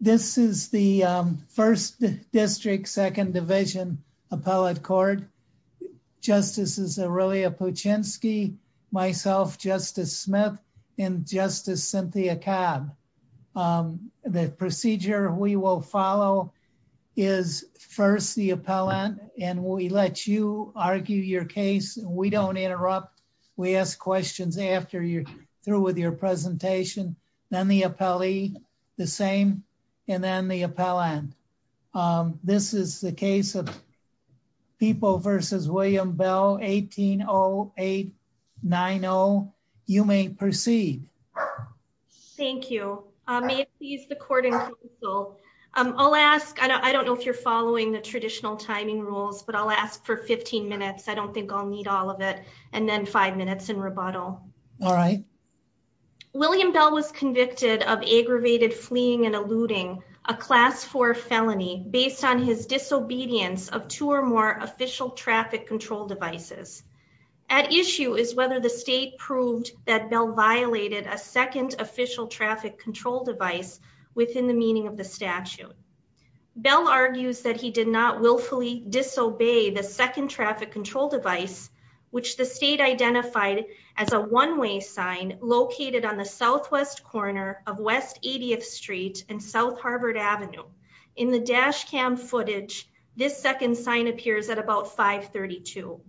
This is the First District Second Division Appellate Court. Justices Aurelia Puchinsky, myself, Justice Smith, and Justice Cynthia Cobb. The procedure we will follow is first the appellant and we let you argue your case. We don't interrupt. We ask questions after you're presentation, then the appellee, the same, and then the appellant. This is the case of People v. William Bell, 18-08-9-0. You may proceed. Thank you. May it please the court and counsel. I'll ask, I don't know if you're following the traditional timing rules, but I'll ask for 15 minutes. I don't think I'll need all of it. And then five minutes in rebuttal. All right. William Bell was convicted of aggravated fleeing and eluding a Class 4 felony based on his disobedience of two or more official traffic control devices. At issue is whether the state proved that Bell violated a second official traffic control device within the meaning of the statute. Bell argues that he did not willfully disobey the second traffic control device, which the state identified as a one-way sign located on the southwest corner of West 80th Street and South Harvard Avenue. In the dash cam footage, this second sign appears at about 532.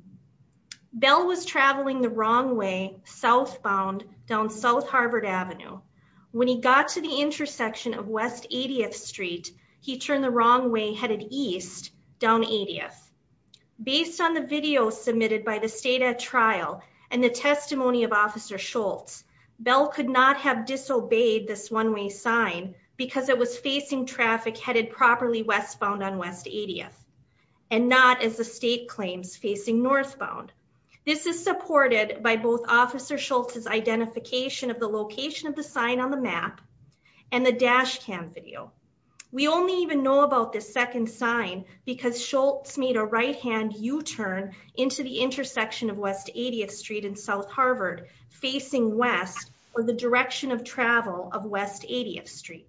Bell was traveling the wrong way southbound down South Harvard Avenue. When he got to the intersection of West 80th Street, he turned the wrong way headed east down 80th. Based on the video submitted by the state at trial and the testimony of Officer Schultz, Bell could not have disobeyed this one-way sign because it was facing traffic headed properly westbound on West 80th and not as the state claims facing northbound. This is supported by both Officer Schultz's identification of the location of the sign on the map and the dash cam video. We only even know about this second sign because Schultz made a right-hand U-turn into the intersection of West 80th Street and South Harvard facing west or the direction of travel of West 80th Street.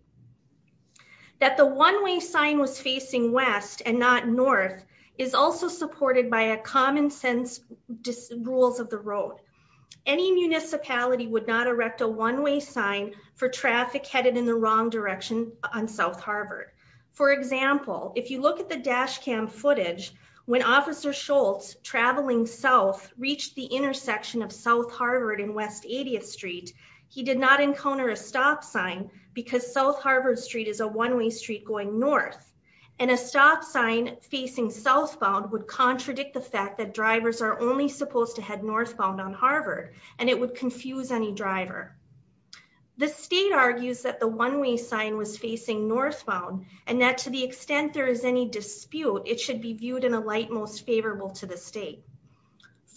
That the one-way sign was facing west and not north is also supported by a common sense rules of the road. Any municipality would not erect a one-way sign for traffic headed in the wrong direction on South Harvard. For example, if you look at the dash cam footage, when Officer Schultz traveling south reached the intersection of South Harvard and West 80th Street, he did not encounter a stop sign because South Harvard Street is a one-way street going north and a stop sign facing southbound would contradict the fact that drivers are only supposed to head northbound on facing northbound and that to the extent there is any dispute, it should be viewed in a light most favorable to the state.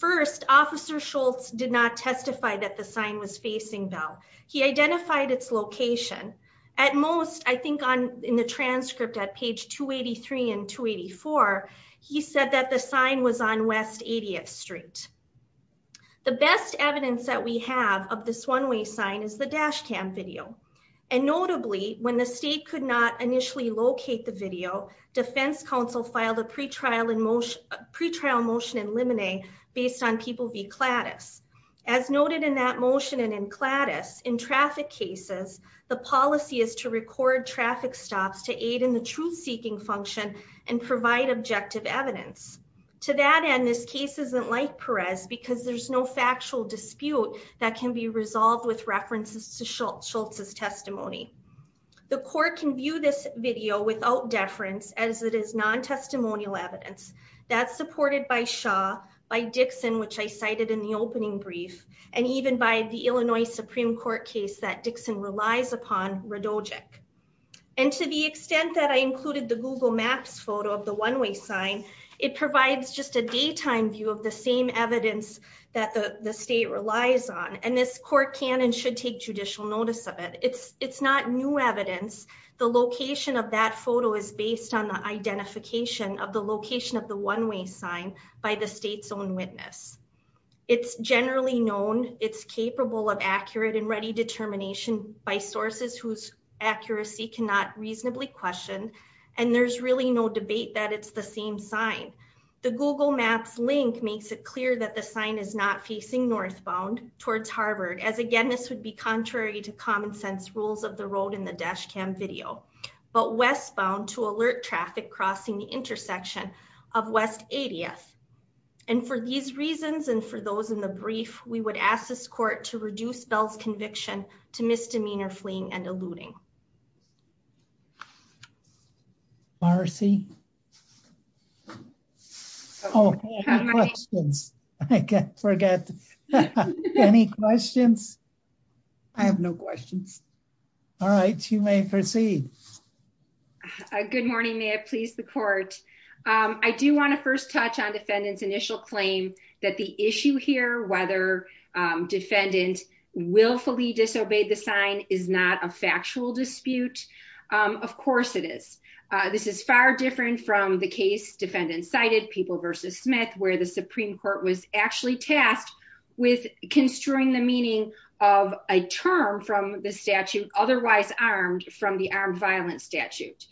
First, Officer Schultz did not testify that the sign was facing bell. He identified its location. At most, I think on in the transcript at page 283 and 284, he said that the sign was on West 80th Street. The best evidence that we have of this one-way sign is the dash cam video. And notably, when the state could not initially locate the video, defense counsel filed a pre-trial motion in limine based on people v. Clattis. As noted in that motion and in Clattis, in traffic cases, the policy is to record traffic stops to aid in the truth-seeking function and provide objective evidence. To that end, this case isn't like dispute that can be resolved with references to Schultz's testimony. The court can view this video without deference as it is non-testimonial evidence that's supported by Shaw, by Dixon, which I cited in the opening brief, and even by the Illinois Supreme Court case that Dixon relies upon, Radojec. And to the extent that I included the Google Maps photo of the one-way sign, it provides just a daytime view of the same evidence that the state relies on. And this court can and should take judicial notice of it. It's not new evidence. The location of that photo is based on the identification of the location of the one-way sign by the state's own witness. It's generally known. It's capable of accurate and ready determination by sources whose accuracy cannot reasonably question. And there's really no debate that it's the same sign. The Google Maps link makes it clear that the sign is not facing northbound towards Harvard, as again, this would be contrary to common sense rules of the road in the dash cam video, but westbound to alert traffic crossing the intersection of West 80th. And for these reasons, and for those in the brief, we would ask this court to reduce Bell's conviction to misdemeanor fleeing and eluding. Marcy. Oh, I can't forget. Any questions? I have no questions. All right, you may proceed. Good morning, may it please the court. I do want to first touch on defendant's initial claim that the issue here, whether defendant willfully disobeyed the sign is not a factual dispute. Of course it is. This is far different from the case defendant cited people versus Smith, where the Supreme Court was actually tasked with construing the meaning of a term from the statute, otherwise armed from the armed violence statute.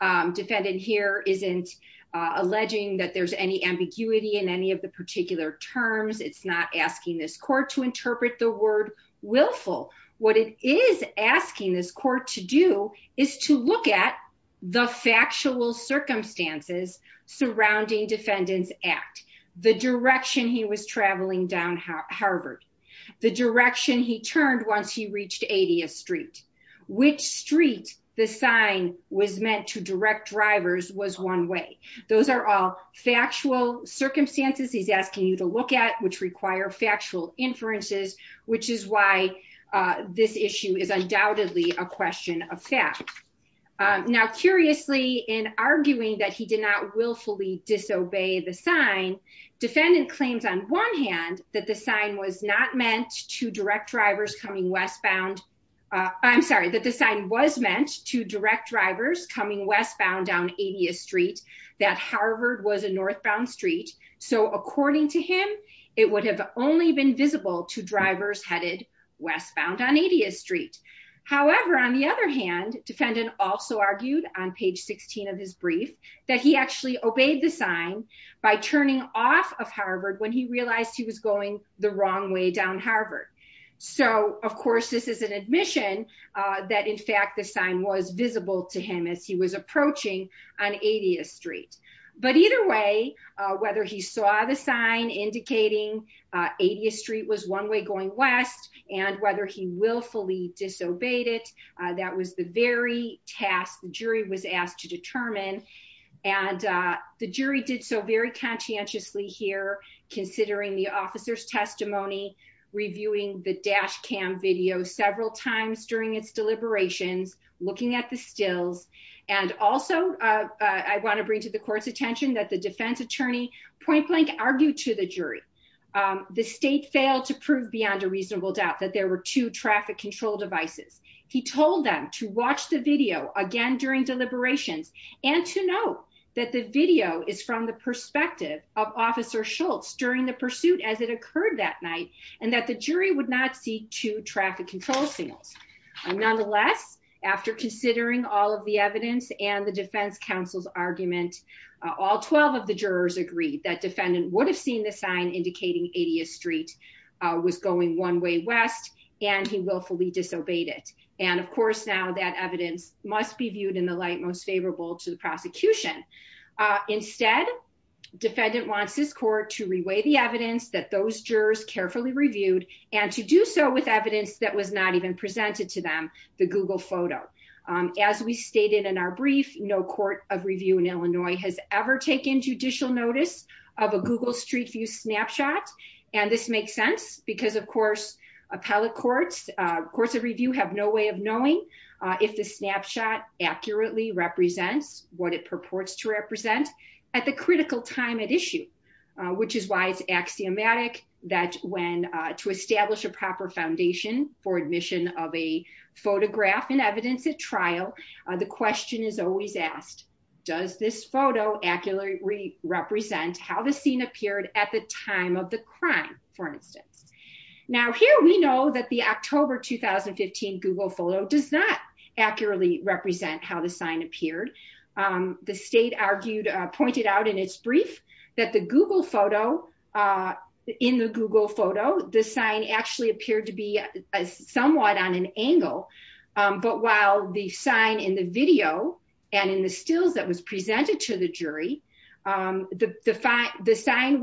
Defendant here isn't alleging that there's any ambiguity in any of the particular terms. It's not asking this court to interpret the word willful. What it is asking this court to do is to look at the factual circumstances surrounding defendant's act, the direction he was traveling down Harvard, the direction he turned once he reached 80th street, which street the sign was meant to direct drivers was one way. Those are all factual circumstances he's asking you to look at which require factual inferences, which is why this issue is undoubtedly a question of fact. Now curiously in arguing that he did not willfully disobey the sign, defendant claims on one hand that the sign was not meant to direct drivers coming westbound. I'm sorry that the sign was meant to direct drivers coming westbound down 80th street, that Harvard was a northbound street. So according to him, it would have only been visible to drivers headed westbound on 80th street. However, on the other hand, defendant also argued on page 16 of his brief, that he actually obeyed the sign by turning off of Harvard when he realized he was going the wrong way down Harvard. So of course, this is an to him as he was approaching on 80th street. But either way, whether he saw the sign indicating 80th street was one way going west, and whether he willfully disobeyed it, that was the very task the jury was asked to determine. And the jury did so very conscientiously here, considering the officer's testimony, reviewing the dash cam video several times during its deliberations, looking at the stills. And also, I want to bring to the court's attention that the defense attorney point blank argued to the jury, the state failed to prove beyond a reasonable doubt that there were two traffic control devices. He told them to watch the video again during deliberations, and to note that the video is from the perspective of officer Schultz during the pursuit as it occurred that night, and that the jury would not see two traffic control signals. Nonetheless, after considering all of the evidence and the defense counsel's argument, all 12 of the jurors agreed that defendant would have seen the sign indicating 80th street was going one way west, and he willfully disobeyed it. And of course, now that evidence must be viewed in the light most favorable to the prosecution. Instead, defendant wants this court to reweigh the evidence that those jurors carefully reviewed, and to do so with evidence that was not even presented to them, the Google photo. As we stated in our brief, no court of review in Illinois has ever taken judicial notice of a Google Street View snapshot. And this makes sense because, of course, appellate courts, courts of review have no way of knowing if the snapshot accurately represents what it purports to represent at the critical time at issue, which is why it's axiomatic that when to establish a proper foundation for admission of a photograph and evidence at trial, the question is always asked, does this photo accurately represent how the scene appeared at the time of the crime, for instance. Now here we know that the October 2015 Google photo does not accurately represent how the sign appeared. The state argued, pointed out in its brief, that the Google photo, in the Google photo, the sign actually appeared to be somewhat on an angle. But while the sign in the video, and in the stills that was presented to the jury, the sign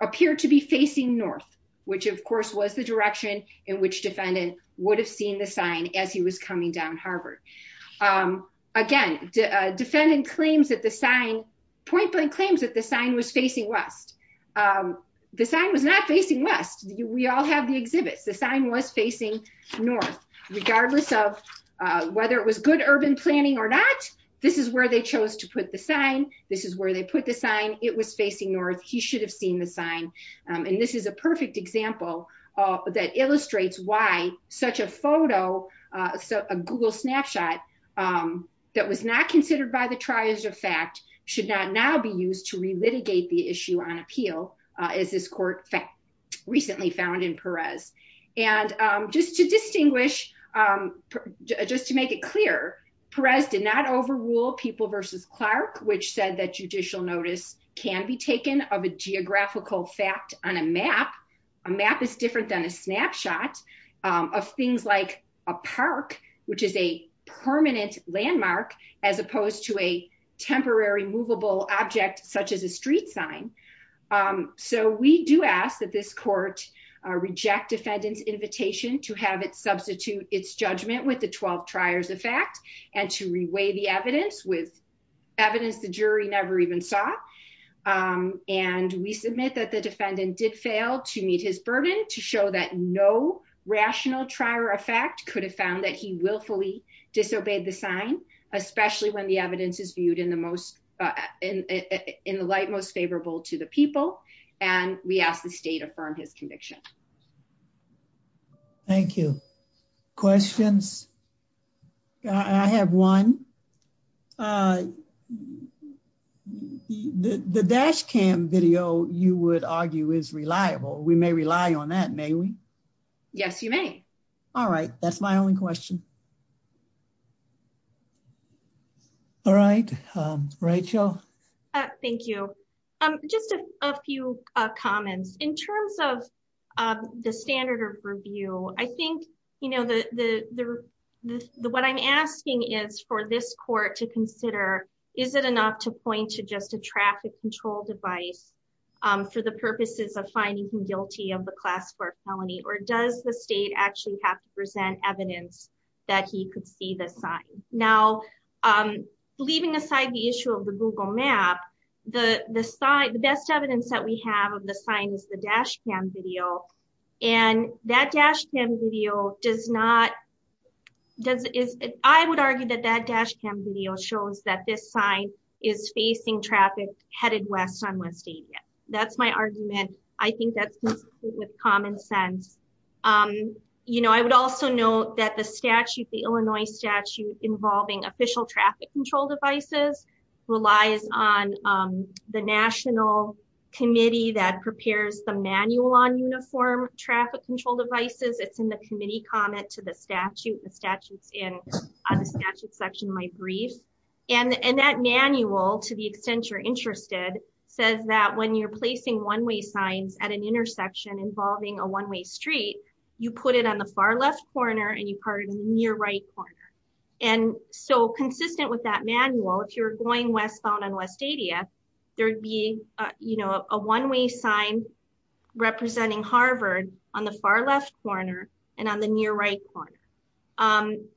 appeared to be facing north, which of course was the direction in which defendant would have seen the sign as he was coming down Harvard. Again, defendant claims that the sign, point blank claims that the sign was facing west. The sign was not facing west. We all have the exhibits. The sign was facing north. Regardless of whether it was good urban planning or not, this is where they chose to put the sign. This is where they put the sign. It was facing north. He should have seen the sign. And this is a perfect example that illustrates why such a photo, so a Google snapshot that was not considered by the triage of fact should not now be used to relitigate the issue on appeal, as this court recently found in Perez. And just to distinguish, just to make it clear, Perez did not overrule People v. Clark, which said that judicial notice can be taken of a geographical fact on a map. A map is different than a snapshot of things like a park, which is a permanent landmark, as opposed to a temporary movable object such as a street sign. So we do ask that this court reject defendant's invitation to have it substitute its judgment with the 12 triers of fact and to reweigh the evidence with evidence the jury never even saw. And we submit that the defendant did fail to meet his burden to show that no rational trier of fact could have found that he willfully disobeyed the sign, especially when the evidence is viewed in the light most favorable to the people, and we ask the state affirm his conviction. Thank you. Questions? I have one. Uh, the dash cam video you would argue is reliable. We may rely on that, may we? Yes, you may. All right. That's my only question. All right. Rachel. Thank you. Just a few comments. In terms of the standard of review, I think, you know, what I'm asking is for this court to consider, is it enough to point to just a traffic control device for the purposes of finding him guilty of the class four felony, or does the state actually have to present evidence that he could see the sign? Now, leaving aside the issue of the Google map, the best evidence that we have of the sign is the dash cam video. I would argue that that dash cam video shows that this sign is facing traffic headed west on West Avia. That's my argument. I think that's consistent with common sense. You know, I would also note that the statute, the Illinois statute involving official traffic control devices relies on the national committee that prepares the manual on uniform traffic control devices. It's in the committee comment to the statute. The statute's in the statute section of my brief. And that manual, to the extent you're interested, says that when you're placing one-way signs at an intersection involving a one-way street, you put it on the far left corner and you put it in the near right corner. And so consistent with that manual, if you're going westbound on West Avia, there'd be, you know, a one-way sign representing Harvard on the far left corner and on the near right corner.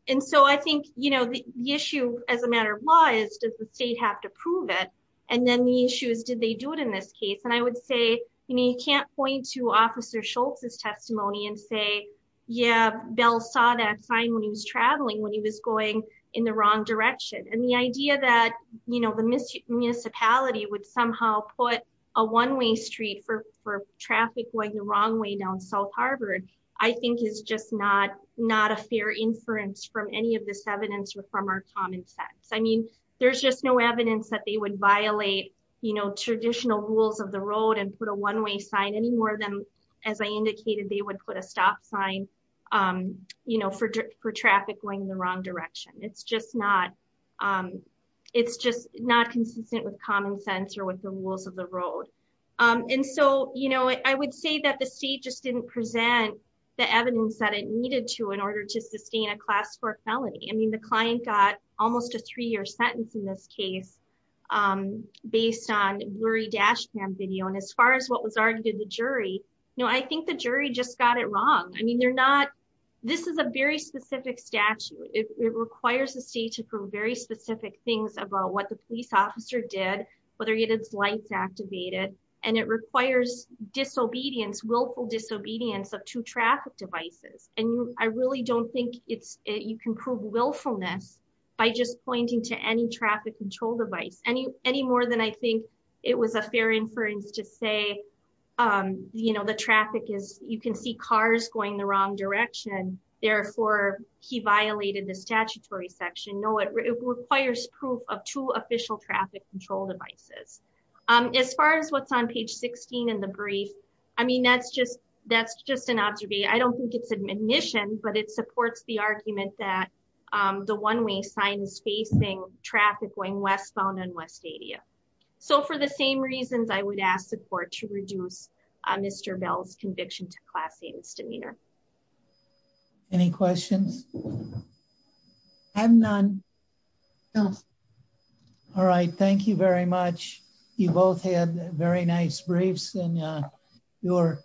And so I think, you know, the issue as a matter of law is, does the state have to prove it? And then the issue is, did they do it in this case? And I would say, you know, you can't point to Officer Schultz's testimony and say, yeah, Bell saw that sign when he was going in the wrong direction. And the idea that, you know, the municipality would somehow put a one-way street for traffic going the wrong way down South Harvard, I think is just not a fair inference from any of this evidence or from our common sense. I mean, there's just no evidence that they would violate, you know, traditional rules of the road and put a one-way sign any more as I indicated, they would put a stop sign, you know, for traffic going the wrong direction. It's just not, it's just not consistent with common sense or with the rules of the road. And so, you know, I would say that the state just didn't present the evidence that it needed to in order to sustain a class four felony. I mean, the client got almost a three-year sentence in this case based on blurry dash cam video. And as far as what was argued in the jury, no, I think the jury just got it wrong. I mean, they're not, this is a very specific statute. It requires the state to prove very specific things about what the police officer did, whether he had his lights activated, and it requires disobedience, willful disobedience of two traffic devices. And I really don't think you can prove willfulness by just pointing to any traffic control device, any more than I think it was a fair inference to say, you know, the traffic is, you can see cars going the wrong direction, therefore he violated the statutory section. No, it requires proof of two official traffic control devices. As far as what's on page 16 in the brief, I mean, that's just, that's just an observation. I don't think it's admonition, but it supports the argument that the one-way sign is facing traffic going westbound on West Adia. So for the same reasons, I would ask the court to reduce Mr. Bell's conviction to class A's demeanor. Any questions? I have none. No. All right. Thank you very much. You both had very nice briefs and you're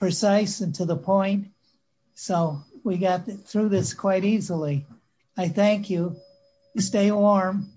precise and to the point. So we got through this quite easily. I thank you. Stay warm.